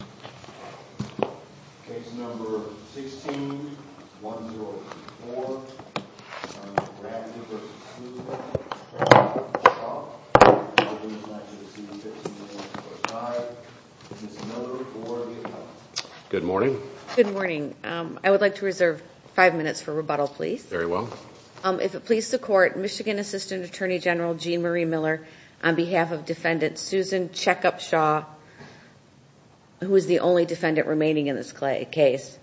and I would like to reserve 5 minutes for rebuttal please. Very well. If it please the court, Michigan Assistant Attorney General Gene Marie Miller on behalf of defendant Susan Chekopshaw, who is the only defendant remaining in this case.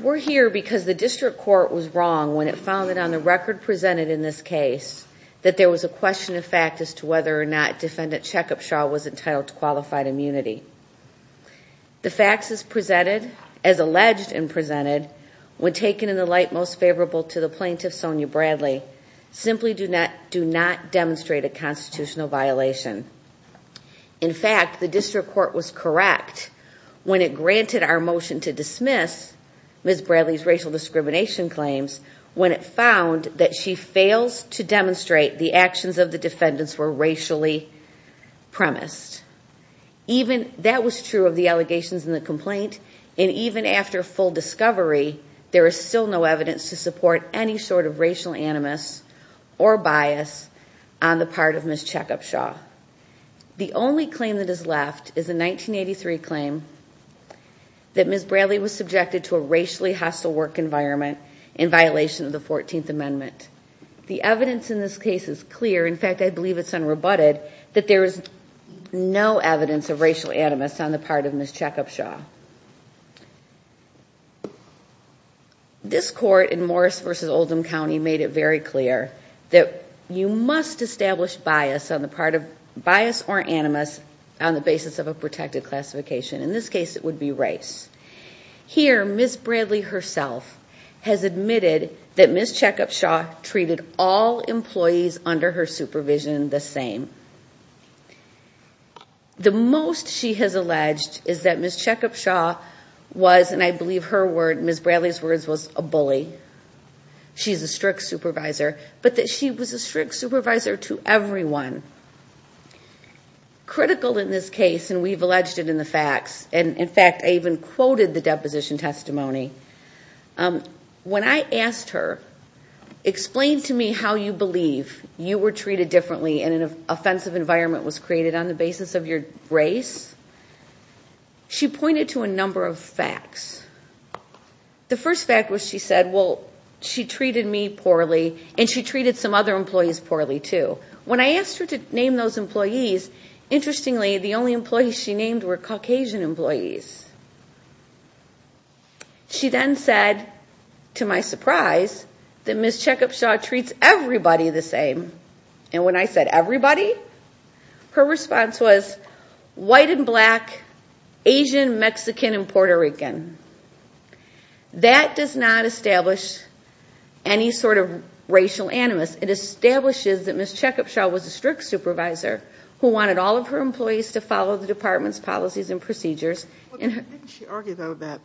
We're here because the district court was wrong when it found that on the record presented in this case that there was a question of fact as to whether or not defendant Chekopshaw was entitled to qualified immunity. The facts as presented, as alleged and presented, when taken in the light most favorable to the plaintiff Sonya Bradley, simply do not demonstrate a constitutional violation. In fact, the district court was correct when it granted our motion to dismiss Ms. Bradley's racial discrimination claims when it found that she fails to demonstrate the actions of the defendants were racially premised. That was true of the allegations in the complaint and even after full discovery, there is still no evidence to support any sort of racial animus or bias on the part of Ms. Chekopshaw. The only claim that is left is a 1983 claim that Ms. Bradley was subjected to a racially hostile work environment in violation of the 14th Amendment. The evidence in this case is clear, in fact I believe it's unrebutted, that there is no evidence of racial animus on the part of Ms. Chekopshaw. This court in Morris versus Oldham County made it very clear that you must establish bias on the part of, bias or animus, on the basis of a protected classification, in this case it would be race. Here Ms. Bradley herself has admitted that Ms. Chekopshaw treated all employees under her supervision the same. The most she has alleged is that Ms. Chekopshaw was, and I believe her word, Ms. Bradley's words was a bully, she's a strict supervisor, but that she was a strict supervisor to everyone. Critical in this case, and we've alleged it in the facts, and in fact I even quoted the deposition testimony, when I asked her, explain to me how you believe you were treated differently and an offensive environment was created on the basis of your race, she pointed to a number of facts. The first fact was she said, well she treated me poorly and she treated some other employees poorly too. When I asked her to name those employees, interestingly the only employees she named were Caucasian employees. She then said, to my surprise, that Ms. Chekopshaw treats everybody the same, and when I said everybody, her response was white and black, Asian, Mexican, and Puerto Rican. That does not establish any sort of racial animus, it establishes that Ms. Chekopshaw was a strict supervisor who wanted all of her employees to follow the department's policies and procedures. Didn't she argue though that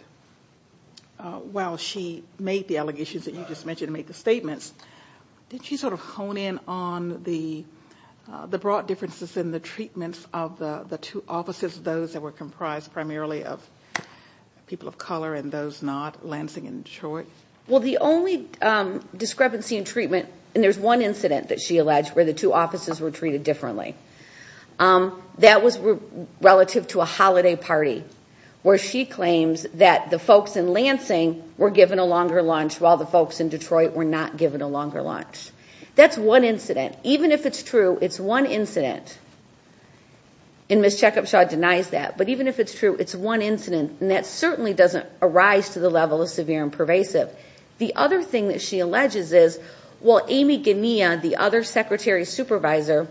while she made the allegations that you just mentioned, made the statements, didn't she sort of hone in on the broad differences in the treatments of the two offices, those that were comprised primarily of people of color and those not, Lansing and Detroit? Well, the only discrepancy in treatment, and there's one incident that she alleged where the two offices were treated differently, that was relative to a holiday party where she claims that the folks in Lansing were given a longer lunch while the folks in Detroit were not given a longer lunch. That's one incident, even if it's true, it's one incident, and Ms. Chekopshaw denies that, but even if it's true, it's one incident, and that certainly doesn't arise to the level of severe and pervasive. The other thing that she alleges is, well, Amy Gania, the other secretary supervisor,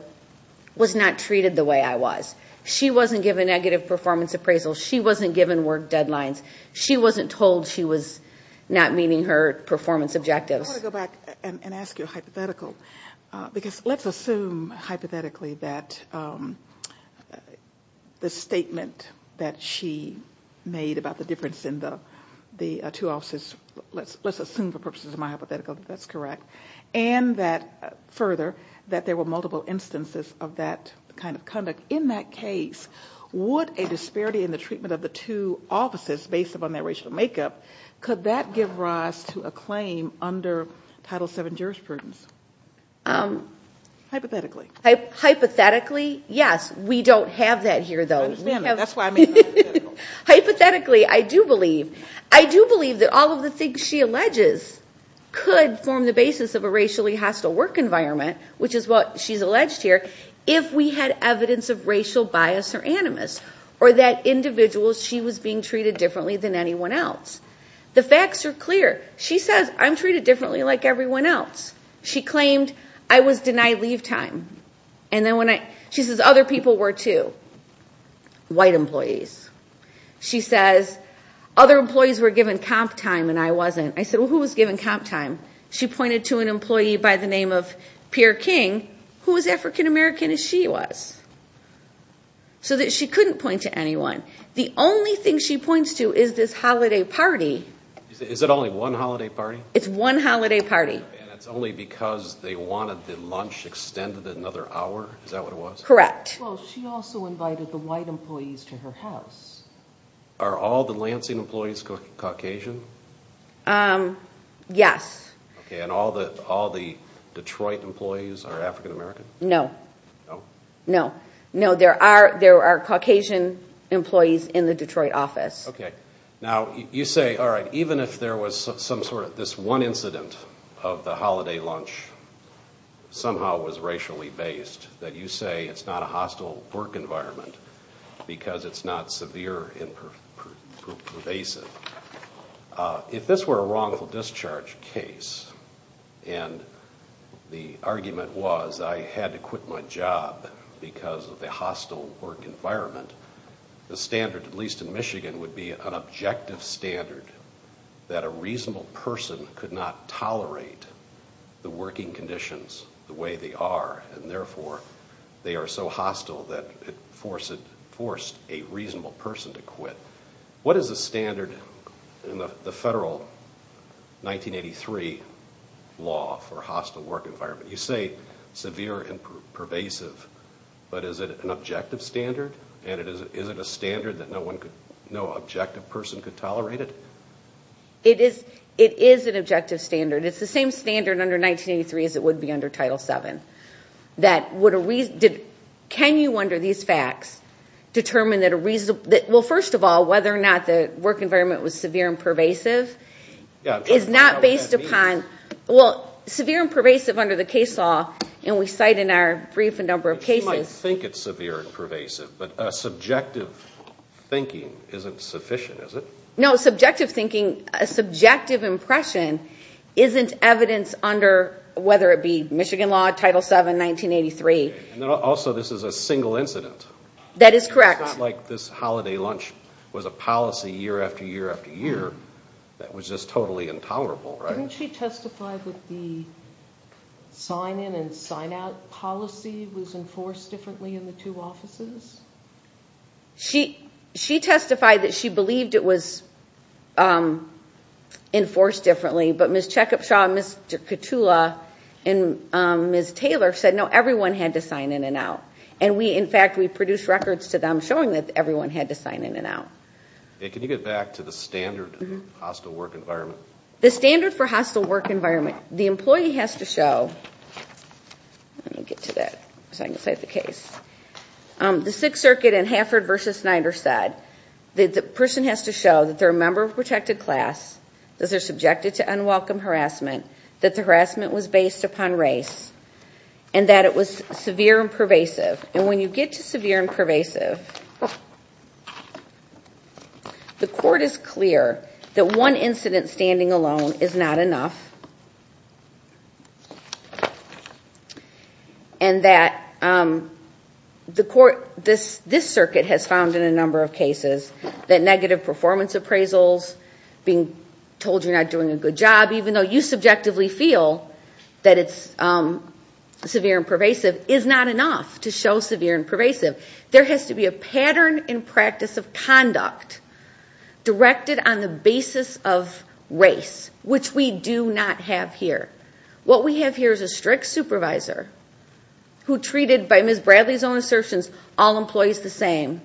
was not treated the way I was. She wasn't given negative performance appraisal, she wasn't given work deadlines, she wasn't told she was not meeting her performance objectives. I want to go back and ask you a hypothetical, because let's assume hypothetically that the statement that she made about the difference in the two offices, let's assume for purposes of my hypothetical that that's correct, and that further, that there were multiple instances of that kind of conduct. In that case, would a disparity in the treatment of the two offices based upon their racial makeup, could that give rise to a claim under Title VII jurisprudence, hypothetically? Hypothetically, yes. We don't have that here, though. I understand that. That's why I made the hypothetical. Hypothetically, I do believe. I do believe that all of the things she alleges could form the basis of a racially hostile work environment, which is what she's alleged here, if we had evidence of racial bias or she was being treated differently than anyone else. The facts are clear. She says, I'm treated differently like everyone else. She claimed, I was denied leave time, and then when I, she says, other people were too. White employees. She says, other employees were given comp time and I wasn't. I said, well, who was given comp time? She pointed to an employee by the name of Pierre King, who was African American as she was, so that she couldn't point to anyone. The only thing she points to is this holiday party. Is it only one holiday party? It's one holiday party. And it's only because they wanted the lunch extended another hour? Is that what it was? Correct. Well, she also invited the white employees to her house. Are all the Lansing employees Caucasian? Yes. Okay. And all the Detroit employees are African American? No. No. No, there are Caucasian employees in the Detroit office. Okay. Now, you say, all right, even if there was some sort of, this one incident of the holiday lunch somehow was racially based, that you say it's not a hostile work environment because it's not severe and pervasive. If this were a wrongful discharge case, and the argument was I had to quit my job because of the hostile work environment, the standard, at least in Michigan, would be an objective standard that a reasonable person could not tolerate the working conditions the way they are, and therefore, they are so hostile that it forced a reasonable person to quit. What is the standard in the federal 1983 law for hostile work environment? You say severe and pervasive, but is it an objective standard, and is it a standard that no objective person could tolerate it? It is an objective standard. It's the same standard under 1983 as it would be under Title VII. Can you, under these facts, determine that a reasonable, well, first of all, whether or not the work environment was severe and pervasive is not based upon, well, severe and pervasive under the case law, and we cite in our brief a number of cases. You might think it's severe and pervasive, but a subjective thinking isn't sufficient, is it? No, subjective thinking, a subjective impression isn't evidence under, whether it be Michigan law, Title VII, 1983. Also this is a single incident. That is correct. It's not like this holiday lunch was a policy year after year after year that was just totally intolerable, right? Didn't she testify that the sign-in and sign-out policy was enforced differently in the two offices? She testified that she believed it was enforced differently, but Ms. Chekupshaw, Ms. Katula, and Ms. Taylor said, no, everyone had to sign in and out, and we, in fact, we produced records to them showing that everyone had to sign in and out. Can you get back to the standard hostile work environment? The standard for hostile work environment, the employee has to show, let me get to that so I can cite the case. The Sixth Circuit in Hafford v. Snyder said that the person has to show that they're a member of a protected class, that they're subjected to unwelcome harassment, that the harassment was based upon race, and that it was severe and pervasive, and when you get to severe and pervasive, the court is clear that one incident standing alone is not enough, and that the court, this circuit has found in a number of cases that negative performance appraisals, being told you're not doing a good job, even though you subjectively feel that it's severe and pervasive, is not enough to show severe and pervasive. There has to be a pattern and practice of conduct directed on the basis of race, which we do not have here. What we have here is a strict supervisor who treated, by Ms. Bradley's own assertions, all employees the same.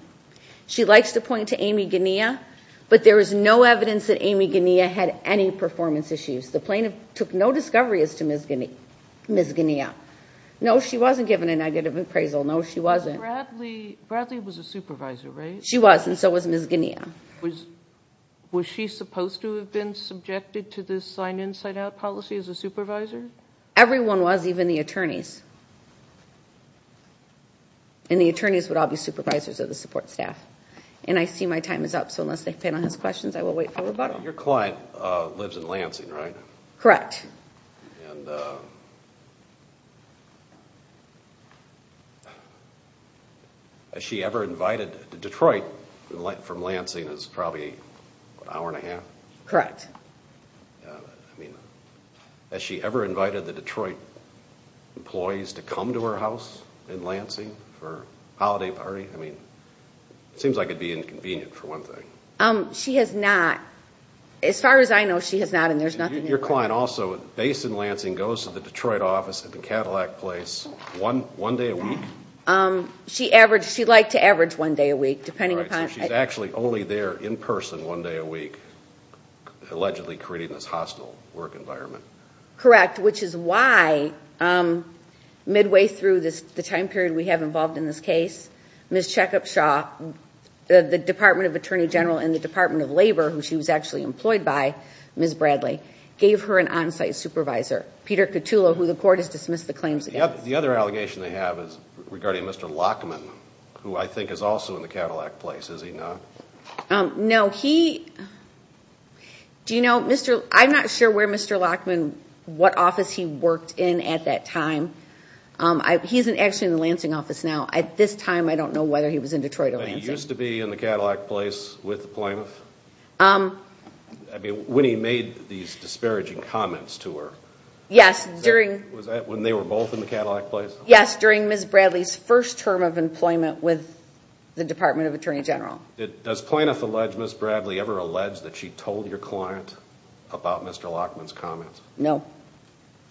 She likes to point to Amy Gunea, but there is no evidence that Amy Gunea had any performance issues. The plaintiff took no discovery as to Ms. Gunea. No, she wasn't given a negative appraisal, no she wasn't. Bradley was a supervisor, right? She was, and so was Ms. Gunea. Was she supposed to have been subjected to this sign in, sign out policy as a supervisor? Everyone was, even the attorneys. The attorneys would all be supervisors of the support staff. I see my time is up, so unless the panel has questions, I will wait for the bottom. Your client lives in Lansing, right? Correct. As she ever invited, Detroit from Lansing is probably an hour and a half? Correct. I mean, has she ever invited the Detroit employees to come to her house in Lansing for a holiday party? I mean, it seems like it would be inconvenient for one thing. She has not. As far as I know, she has not, and there's nothing in Lansing. Your client also, based in Lansing, goes to the Detroit office at the Cadillac place one day a week? She averaged, she'd like to average one day a week, depending upon- Right, so she's actually only there in person one day a week, allegedly creating this hostile work environment. Correct, which is why midway through the time period we have involved in this case, Ms. Chekopshaw, the Department of Attorney General and the Department of Labor, who she was actually gave her an on-site supervisor, Peter Catullo, who the court has dismissed the claims against. The other allegation they have is regarding Mr. Lockman, who I think is also in the Cadillac place, is he not? No, he... Do you know, I'm not sure where Mr. Lockman, what office he worked in at that time. He's actually in the Lansing office now. At this time, I don't know whether he was in Detroit or Lansing. But he used to be in the Cadillac place with the plaintiff? I mean, when he made these disparaging comments to her, was that when they were both in the Cadillac place? Yes, during Ms. Bradley's first term of employment with the Department of Attorney General. Does plaintiff allege Ms. Bradley ever alleged that she told your client about Mr. Lockman's comments? No.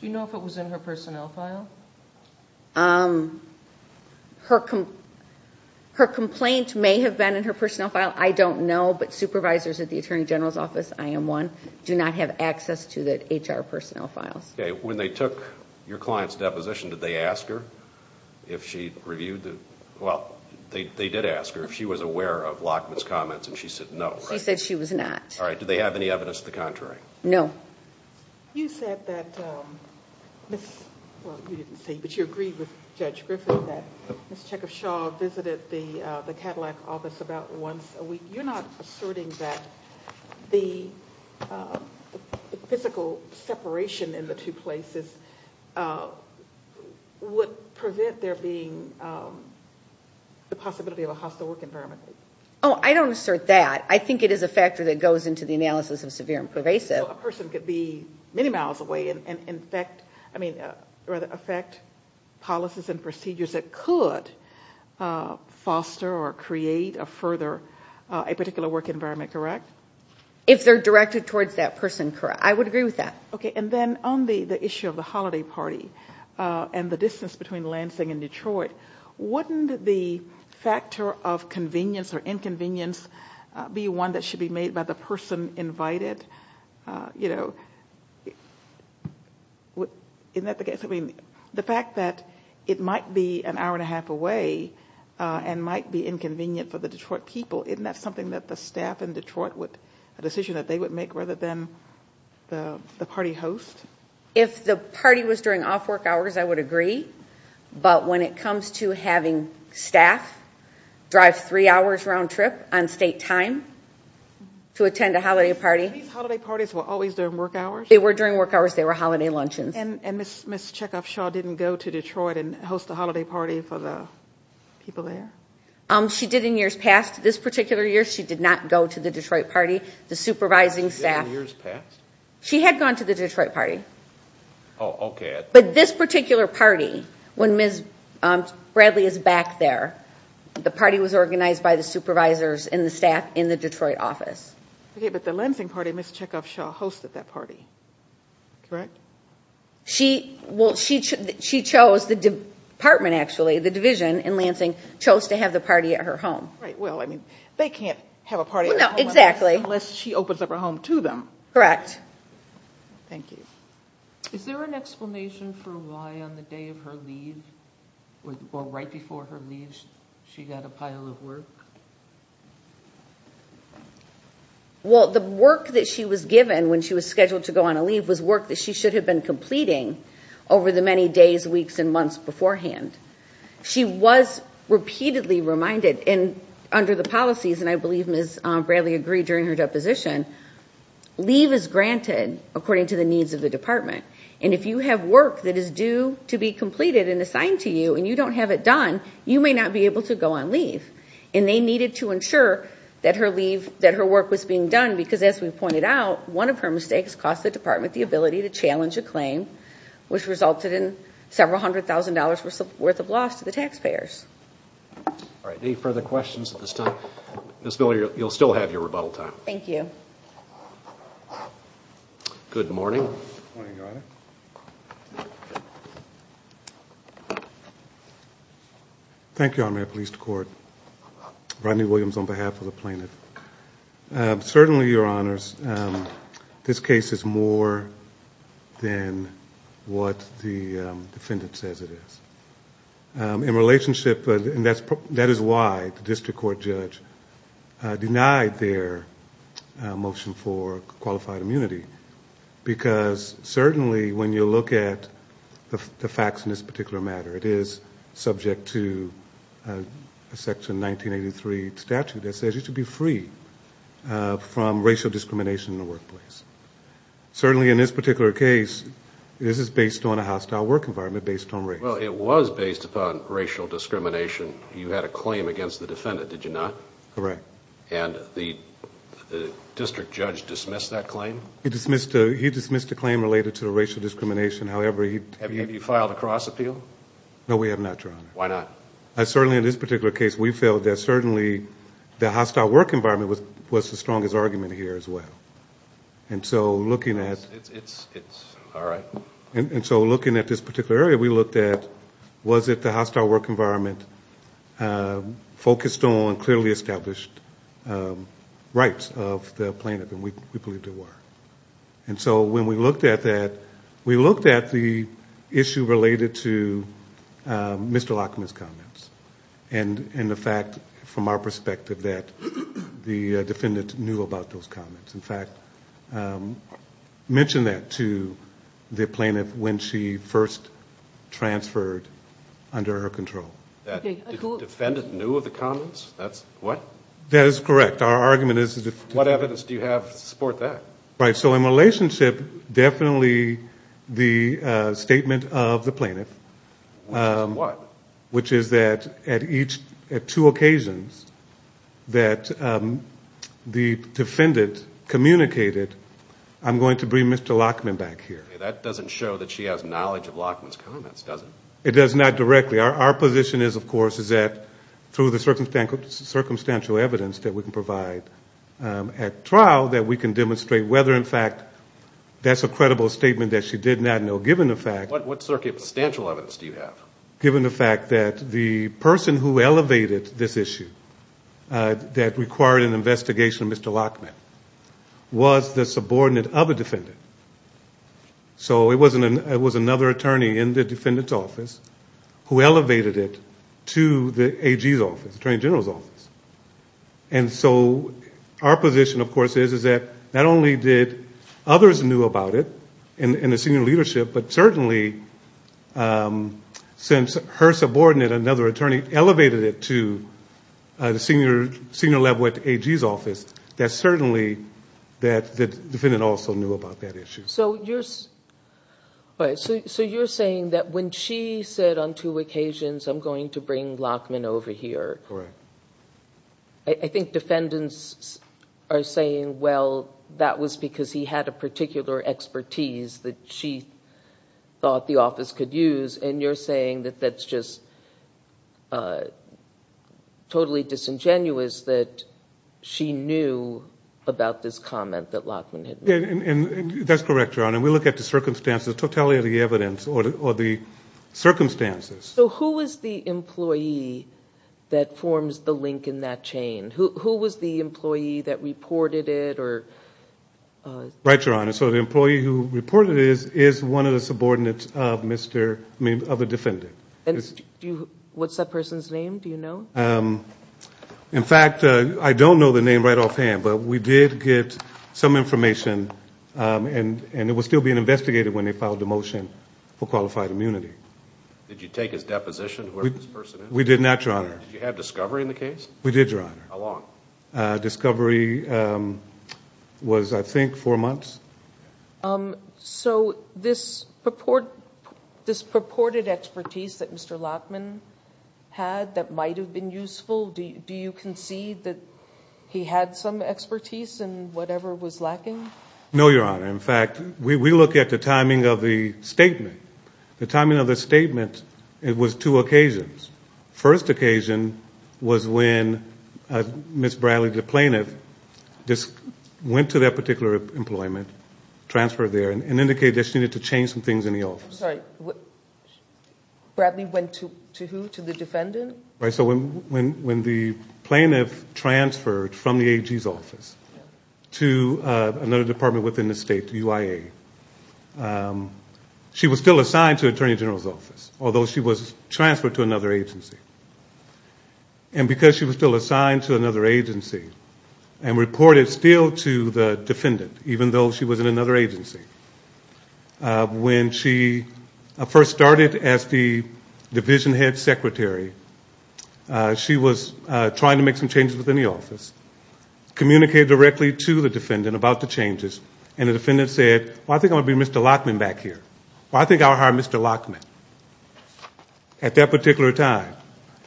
Do you know if it was in her personnel file? Her complaint may have been in her personnel file. I don't know, but supervisors at the Attorney General's office, I am one, do not have access to the HR personnel files. Okay. When they took your client's deposition, did they ask her if she reviewed the... Well, they did ask her if she was aware of Lockman's comments, and she said no, right? She said she was not. All right. Do they have any evidence to the contrary? No. You said that... Well, you didn't say, but you agreed with Judge Griffith that Ms. Chekhov-Shaw visited the Cadillac office about once a week. You're not asserting that the physical separation in the two places would prevent there being the possibility of a hostile work environment? I don't assert that. I think it is a factor that goes into the analysis of severe and pervasive. A person could be many miles away and affect policies and procedures that could foster or create a particular work environment, correct? If they're directed towards that person, correct. I would agree with that. Okay. Then on the issue of the holiday party and the distance between Lansing and Detroit, wouldn't the factor of convenience or inconvenience be one that should be made by the person invited? Isn't that the case? The fact that it might be an hour and a half away and might be inconvenient for the Detroit people, isn't that something that the staff in Detroit, a decision that they would make rather than the party host? If the party was during off work hours, I would agree, but when it comes to having staff drive three hours round trip on state time to attend a holiday party. These holiday parties were always during work hours? They were during work hours. They were holiday luncheons. Ms. Chekhovshaw didn't go to Detroit and host a holiday party for the people there? She did in years past. This particular year, she did not go to the Detroit party. The supervising staff- She did in years past? She had gone to the Detroit party. Okay. This particular party, when Ms. Bradley is back there, the party was organized by the supervisors and the staff in the Detroit office. The Lansing party, Ms. Chekhovshaw hosted that party, correct? She chose, the department actually, the division in Lansing, chose to have the party at her home. Right. Well, I mean, they can't have a party at their home- No, exactly. Unless she opens up her home to them. Correct. Thank you. Is there an explanation for why on the day of her leave, or right before her leave, she got a pile of work? Well, the work that she was given when she was scheduled to go on a leave was work that she should have been completing over the many days, weeks, and months beforehand. She was repeatedly reminded, and under the policies, and I believe Ms. Bradley agreed during her deposition, leave is granted according to the needs of the department. If you have work that is due to be completed and assigned to you, and you don't have it done, you may not be able to go on leave. They needed to ensure that her work was being done, because as we pointed out, one of her mistakes cost the department the ability to challenge a claim, which resulted in several hundred thousand dollars worth of loss to the taxpayers. All right. Any further questions at this time? Ms. Miller, you'll still have your rebuttal time. Thank you. Good morning, Your Honor. Thank you, Honorary Police Department. Rodney Williams on behalf of the plaintiff. Certainly, Your Honors, this case is more than what the defendant says it is. In relationship, and that is why the district court judge denied their motion for qualified immunity, because certainly when you look at the facts in this particular matter, it is subject to a Section 1983 statute that says you should be free from racial discrimination in the workplace. Certainly, in this particular case, this is based on a hostile work environment based on race. Well, it was based upon racial discrimination. You had a claim against the defendant, did you not? Correct. And the district judge dismissed that claim? He dismissed the claim related to racial discrimination, however... Have you filed a cross appeal? No, we have not, Your Honor. Why not? Certainly, in this particular case, we felt that certainly the hostile work environment was the strongest argument here as well. And so looking at... It's all right. And so looking at this particular area, we looked at was it the hostile work environment focused on clearly established rights of the plaintiff, and we believe there were. And so when we looked at that, we looked at the issue related to Mr. Lockman's comments and the fact, from our perspective, that the defendant knew about those comments, in fact, mentioned that to the plaintiff when she first transferred under her control. That the defendant knew of the comments? That's what? That is correct. Our argument is... What evidence do you have to support that? Right. So in relationship, definitely the statement of the plaintiff... Which is what? Which is that at two occasions that the defendant communicated, I'm going to bring Mr. Lockman back here. That doesn't show that she has knowledge of Lockman's comments, does it? It does not directly. Our position is, of course, is that through the circumstantial evidence that we can provide at trial, that we can demonstrate whether, in fact, that's a credible statement that she did not know, given the fact... What circumstantial evidence do you have? Given the fact that the person who elevated this issue, that required an investigation of Mr. Lockman, was the subordinate of a defendant. So it was another attorney in the defendant's office who elevated it to the AG's office, Attorney General's office. And so our position, of course, is that not only did others knew about it in the senior Since her subordinate, another attorney, elevated it to the senior level at the AG's office, that certainly the defendant also knew about that issue. So you're saying that when she said on two occasions, I'm going to bring Lockman over here... Correct. I think defendants are saying, well, that was because he had a particular expertise that she thought the office could use. And you're saying that that's just totally disingenuous that she knew about this comment that Lockman had made. And that's correct, Your Honor. We look at the circumstances, totality of the evidence, or the circumstances. So who was the employee that forms the link in that chain? Who was the employee that reported it or... Right, Your Honor. So the employee who reported it is one of the subordinates of the defendant. What's that person's name? Do you know? In fact, I don't know the name right offhand, but we did get some information and it was still being investigated when they filed the motion for qualified immunity. Did you take his deposition, whoever this person is? We did not, Your Honor. Did you have discovery in the case? We did, Your Honor. How long? Discovery was, I think, four months. So this purported expertise that Mr. Lockman had that might have been useful, do you concede that he had some expertise in whatever was lacking? No, Your Honor. In fact, we look at the timing of the statement. The timing of the statement, it was two occasions. First occasion was when Ms. Bradley, the plaintiff, went to that particular employment, transferred there, and indicated that she needed to change some things in the office. I'm sorry. Bradley went to who? To the defendant? Right, so when the plaintiff transferred from the AG's office to another department within the state, the UIA, she was still assigned to the Attorney General's office, although she was transferred to another agency. And because she was still assigned to another agency and reported still to the defendant, even though she was in another agency, when she first started as the division head secretary, she was trying to make some changes within the office, communicated directly to the defendant about the changes, and the defendant said, well, I think I'm going to bring Mr. Lockman back here. Well, I think I'll hire Mr. Lockman, at that particular time.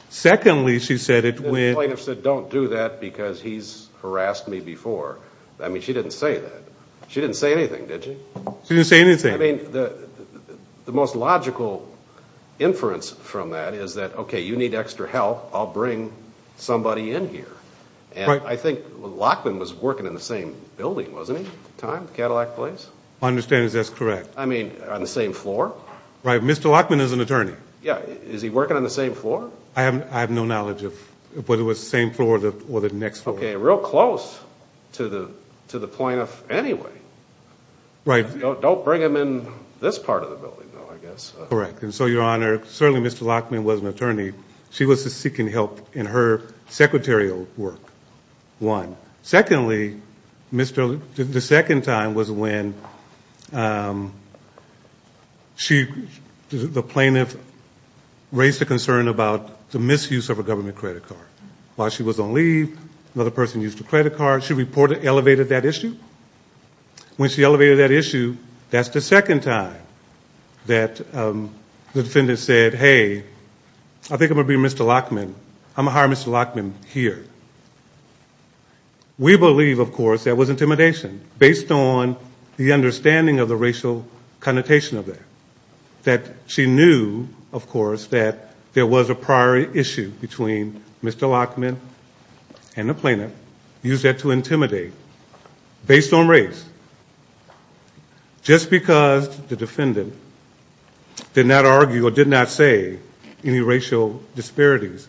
Secondly, she said it when... The plaintiff said, don't do that because he's harassed me before. I mean, she didn't say that. She didn't say anything, did she? She didn't say anything. I mean, the most logical inference from that is that, okay, you need extra help, I'll bring somebody in here. I think Lockman was working in the same building, wasn't he? Time, Cadillac Place? My understanding is that's correct. I mean, on the same floor? Right, Mr. Lockman is an attorney. Yeah, is he working on the same floor? I have no knowledge of whether it was the same floor or the next floor. Okay, real close to the plaintiff anyway. Don't bring him in this part of the building, though, I guess. Correct, and so, Your Honor, certainly Mr. Lockman was an attorney. She was seeking help in her secretarial work, one. Secondly, the second time was when the plaintiff raised a concern about the misuse of a government credit card. While she was on leave, another person used her credit card. She reported elevated that issue. When she elevated that issue, that's the second time that the defendant said, hey, I think I'm going to be Mr. Lockman. I'm going to hire Mr. Lockman here. We believe, of course, that was intimidation based on the understanding of the racial connotation of that. That she knew, of course, that there was a prior issue between Mr. Lockman and the plaintiff, used that to intimidate based on race. Just because the defendant did not argue or did not say any racial disparities,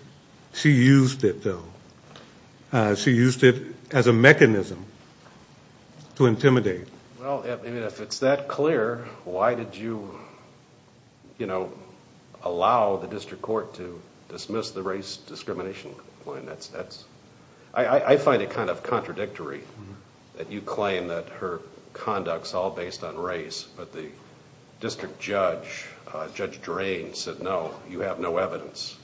she used it, though. She used it as a mechanism to intimidate. Well, if it's that clear, why did you allow the district court to dismiss the race discrimination claim? I find it contradictory that you claim that her conduct's all based on race, but the district judge, Judge Drain, said, no, you have no evidence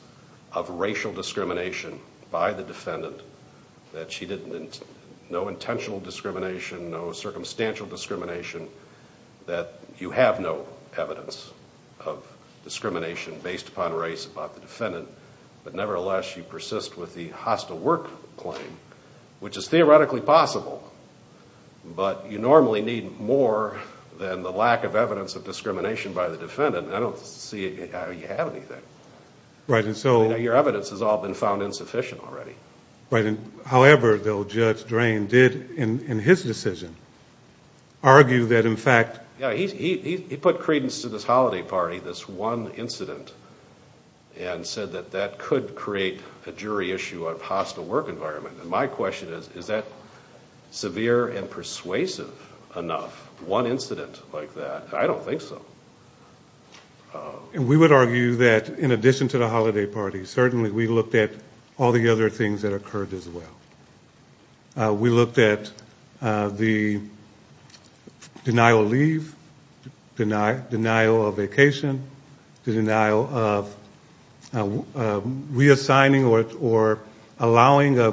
of racial discrimination by the defendant. No intentional discrimination, no circumstantial discrimination, that you have no evidence of discrimination based upon race about the defendant, but nevertheless, she persists with the hostile work claim, which is theoretically possible, but you normally need more than the lack of evidence of discrimination by the defendant. I don't see how you have anything. Your evidence has all been found insufficient already. However, though, Judge Drain did, in his decision, argue that in fact... Yeah, he put credence to this holiday party, this one incident, and said that that could create a jury issue of hostile work environment. My question is, is that severe and persuasive enough, one incident like that? I don't think so. We would argue that, in addition to the holiday party, certainly we looked at all the other things that occurred as well. We looked at the denial of leave, denial of vacation, the denial of reassigning or allowing a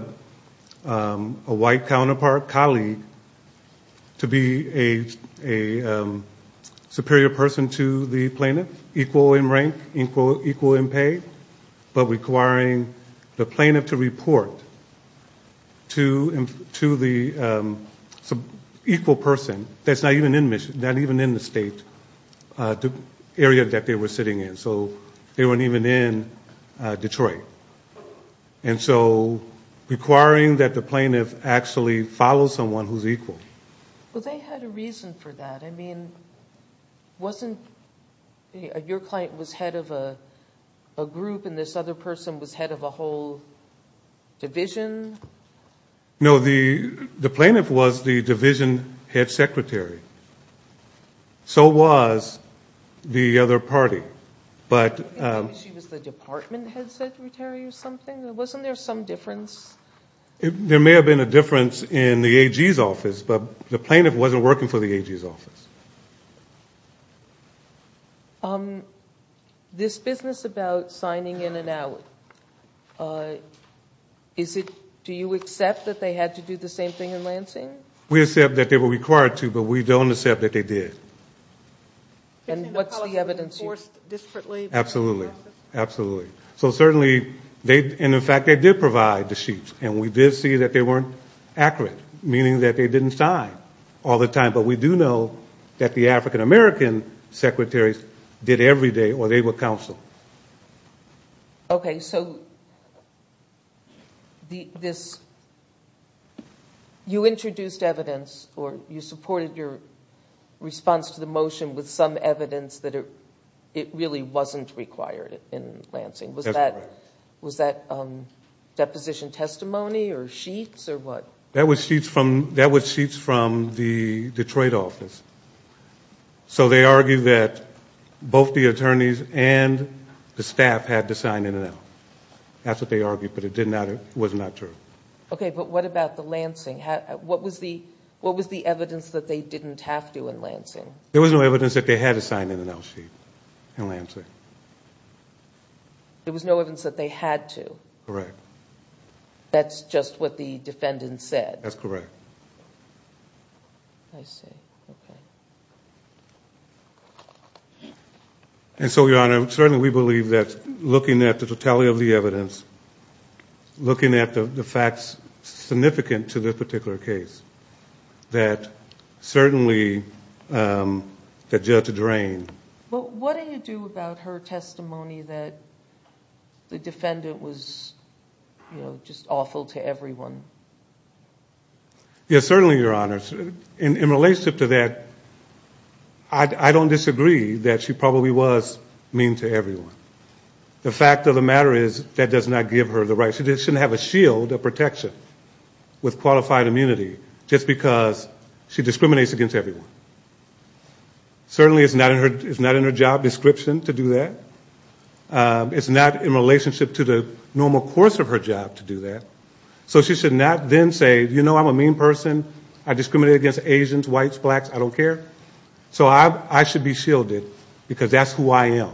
white counterpart colleague to be a superior person to the plaintiff, equal in rank, equal in pay, but requiring the plaintiff to report to the equal person that's not even in the state, the area that they were sitting in, so they weren't even in Detroit, and so requiring that the plaintiff actually follow someone who's equal. Well, they had a reason for that. I mean, wasn't... Your client was head of a group, and this other person was head of a whole division? No, the plaintiff was the division head secretary. So was the other party. But... I think maybe she was the department head secretary or something. Wasn't there some difference? There may have been a difference in the AG's office, but the plaintiff wasn't working for the AG's office. This business about signing in and out, is it... Do you accept that they had to do the same thing in Lansing? We accept that they were required to, but we don't accept that they did. And what's the evidence you... You're saying the policy was enforced disparately by... Absolutely. Absolutely. So certainly, they... In fact, they did provide the sheets, and we did see that they weren't accurate, meaning that they didn't sign all the time. But we do know that the African-American secretaries did every day, or they were counseled. Okay, so this... You introduced evidence, or you supported your response to the motion with some evidence that it really wasn't required in Lansing. That's correct. Was that deposition testimony, or sheets, or what? That was sheets from the Detroit office. So they argued that both the attorneys and the staff had to sign in and out. That's what they argued, but it was not true. Okay, but what about the Lansing? What was the evidence that they didn't have to in Lansing? There was no evidence that they had to sign in and out sheet in Lansing. There was no evidence that they had to? Correct. That's just what the defendant said? That's correct. I see. Okay. And so, Your Honor, certainly we believe that looking at the totality of the evidence, looking at the facts significant to this particular case, that certainly the judge drained... But what do you do about her testimony that the defendant was just awful to everyone? Yes, certainly, Your Honor. In relationship to that, I don't disagree that she probably was mean to everyone. The fact of the matter is that does not give her the right... She shouldn't have a shield of protection with qualified immunity just because she discriminates against everyone. Certainly, it's not in her job description to do that. It's not in relationship to the normal course of her job to do that. So she should not then say, you know, I'm a mean person. I discriminate against Asians, whites, blacks. I don't care. So I should be shielded because that's who I am.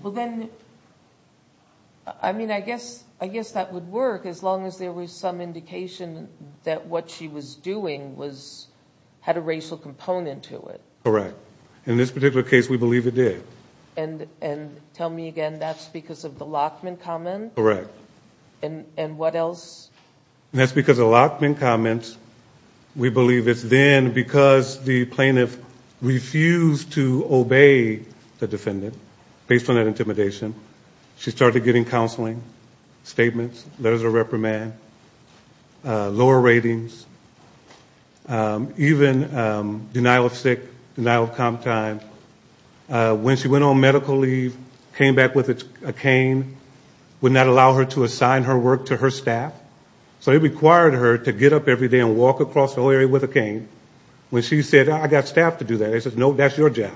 Well, then... I mean, I guess that would work as long as there was some indication that what she was doing had a racial component to it. Correct. In this particular case, we believe it did. Tell me again, that's because of the Lachman comment? Correct. And what else? That's because of the Lachman comments. We believe it's then because the plaintiff refused to obey the defendant based on that intimidation. She started getting counseling, statements, letters of reprimand, lower ratings, even denial of sick, denial of comp time. When she went on medical leave, came back with a cane, would not allow her to assign her work to her staff. So it required her to get up every day and walk across the whole area with a cane. When she said, I got staff to do that, they said, no, that's your job.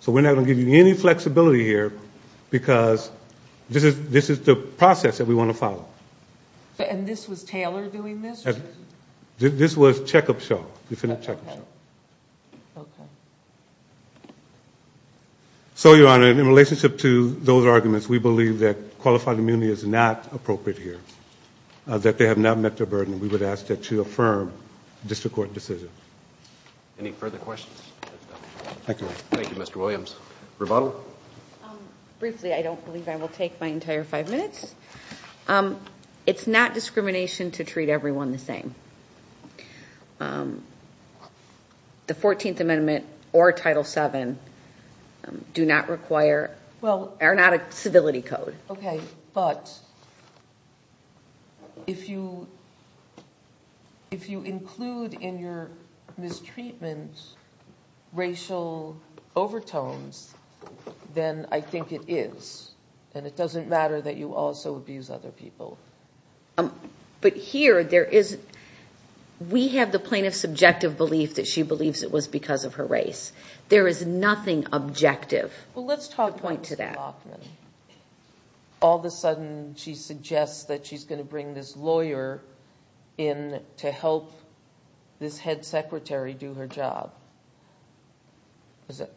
So we're not going to give you any flexibility here, because this is the process that we want to follow. And this was Taylor doing this? This was checkup show, the defendant checkup show. Okay. So, Your Honor, in relationship to those arguments, we believe that qualified immunity is not appropriate here, that they have not met their burden. We would ask that you affirm the district court decision. Any further questions? Thank you, Mr. Williams. Rebuttal? Briefly, I don't believe I will take my entire five minutes. It's not discrimination to treat everyone the same. The 14th Amendment or Title VII do not require, are not a civility code. Okay, but if you include in your mistreatment racial overtones, then I think it is. And it doesn't matter that you also abuse other people. But here, we have the plaintiff's subjective belief that she believes it was because of her race. There is nothing objective. Well, let's talk about Ms. Bachman. All of a sudden, she suggests that she's going to bring this lawyer in to help this head secretary do her job.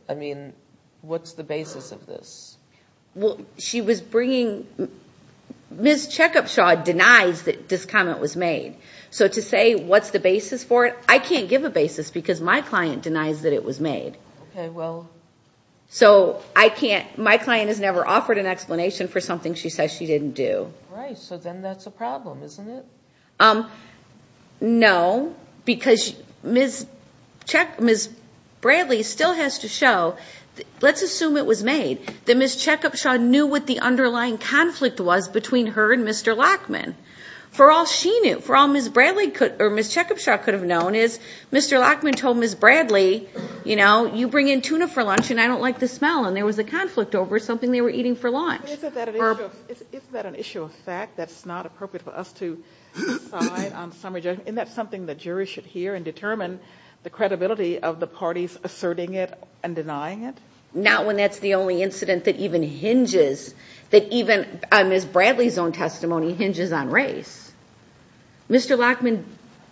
I mean, what's the basis of this? Well, she was bringing – Ms. Checkupshaw denies that this comment was made. So to say what's the basis for it, I can't give a basis because my client denies that it was made. Okay, well – So I can't – my client has never offered an explanation for something she says she didn't do. Right, so then that's a problem, isn't it? No, because Ms. Bradley still has to show – let's assume it was made, that Ms. Checkupshaw knew what the underlying conflict was between her and Mr. Lockman. For all she knew, for all Ms. Bradley could – or Ms. Checkupshaw could have known, is Mr. Lockman told Ms. Bradley, you know, you bring in tuna for lunch and I don't like the smell, and there was a conflict over something they were eating for lunch. Isn't that an issue of fact that's not appropriate for us to decide on summary judgment? Isn't that something the jury should hear and determine the credibility of the parties asserting it and denying it? Not when that's the only incident that even hinges – that even Ms. Bradley's own testimony hinges on race. Mr. Lockman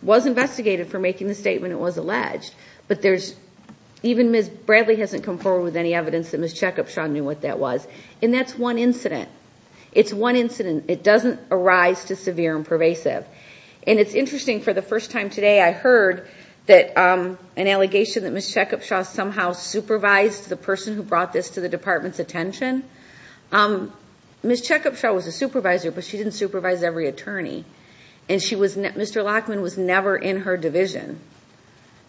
was investigated for making the statement it was alleged, but there's – even Ms. Bradley hasn't come forward with any evidence that Ms. Checkupshaw knew what that was, and that's one incident. It's one incident. It doesn't arise to severe and pervasive. And it's interesting, for the first time today I heard that – an allegation that Ms. Checkupshaw somehow supervised the person who brought this to the department's attention. Ms. Checkupshaw was a supervisor, but she didn't supervise every attorney. And she was – Mr. Lockman was never in her division.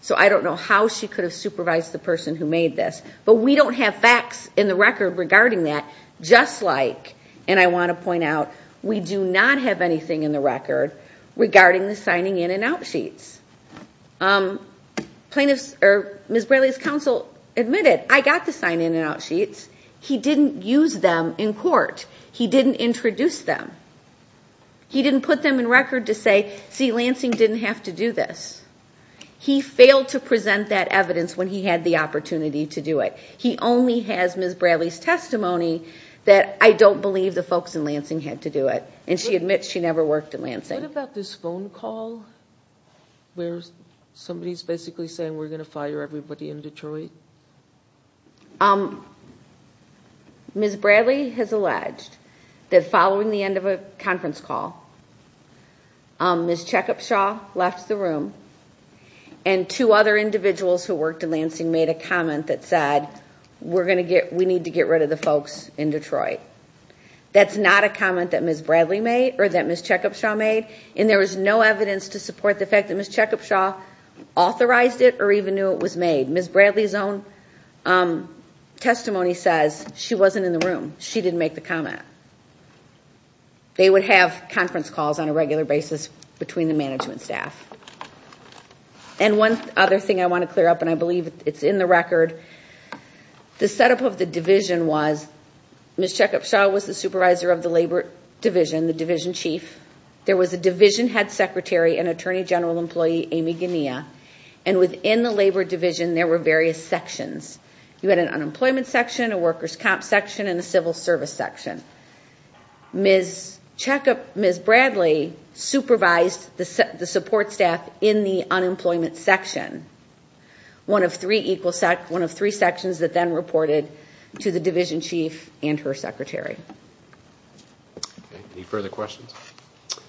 So I don't know how she could have supervised the person who made this. But we don't have facts in the record regarding that, just like – and I want to point out, we do not have anything in the record regarding the signing in and out sheets. Plaintiffs – or Ms. Bradley's counsel admitted, I got the sign in and out sheets. He didn't use them in court. He didn't introduce them. He didn't put them in record to say, see, Lansing didn't have to do this. He failed to present that evidence when he had the opportunity to do it. He only has Ms. Bradley's testimony that, I don't believe the folks in Lansing had to do it. And she admits she never worked in Lansing. What about this phone call where somebody is basically saying we're going to fire everybody in Detroit? Ms. Bradley has alleged that following the end of a conference call, Ms. Checkupshaw left the room. And two other individuals who worked in Lansing made a comment that said, we're going to get – we need to get rid of the folks in Detroit. That's not a comment that Ms. Bradley made or that Ms. Checkupshaw made. And there was no evidence to support the fact that Ms. Checkupshaw authorized it or even knew it was made. Ms. Bradley's own testimony says she wasn't in the room. She didn't make the comment. They would have conference calls on a regular basis between the management staff. And one other thing I want to clear up, and I believe it's in the record. The setup of the division was Ms. Checkupshaw was the supervisor of the labor division, the division chief. There was a division head secretary and attorney general employee, Amy Gunea. And within the labor division, there were various sections. You had an unemployment section, a workers' comp section, and a civil service section. Ms. Bradley supervised the support staff in the unemployment section. One of three equal – one of three sections that then reported to the division chief and her secretary. Any further questions?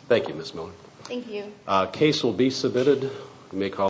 Thank you, Ms. Miller. Thank you. Case will be submitted.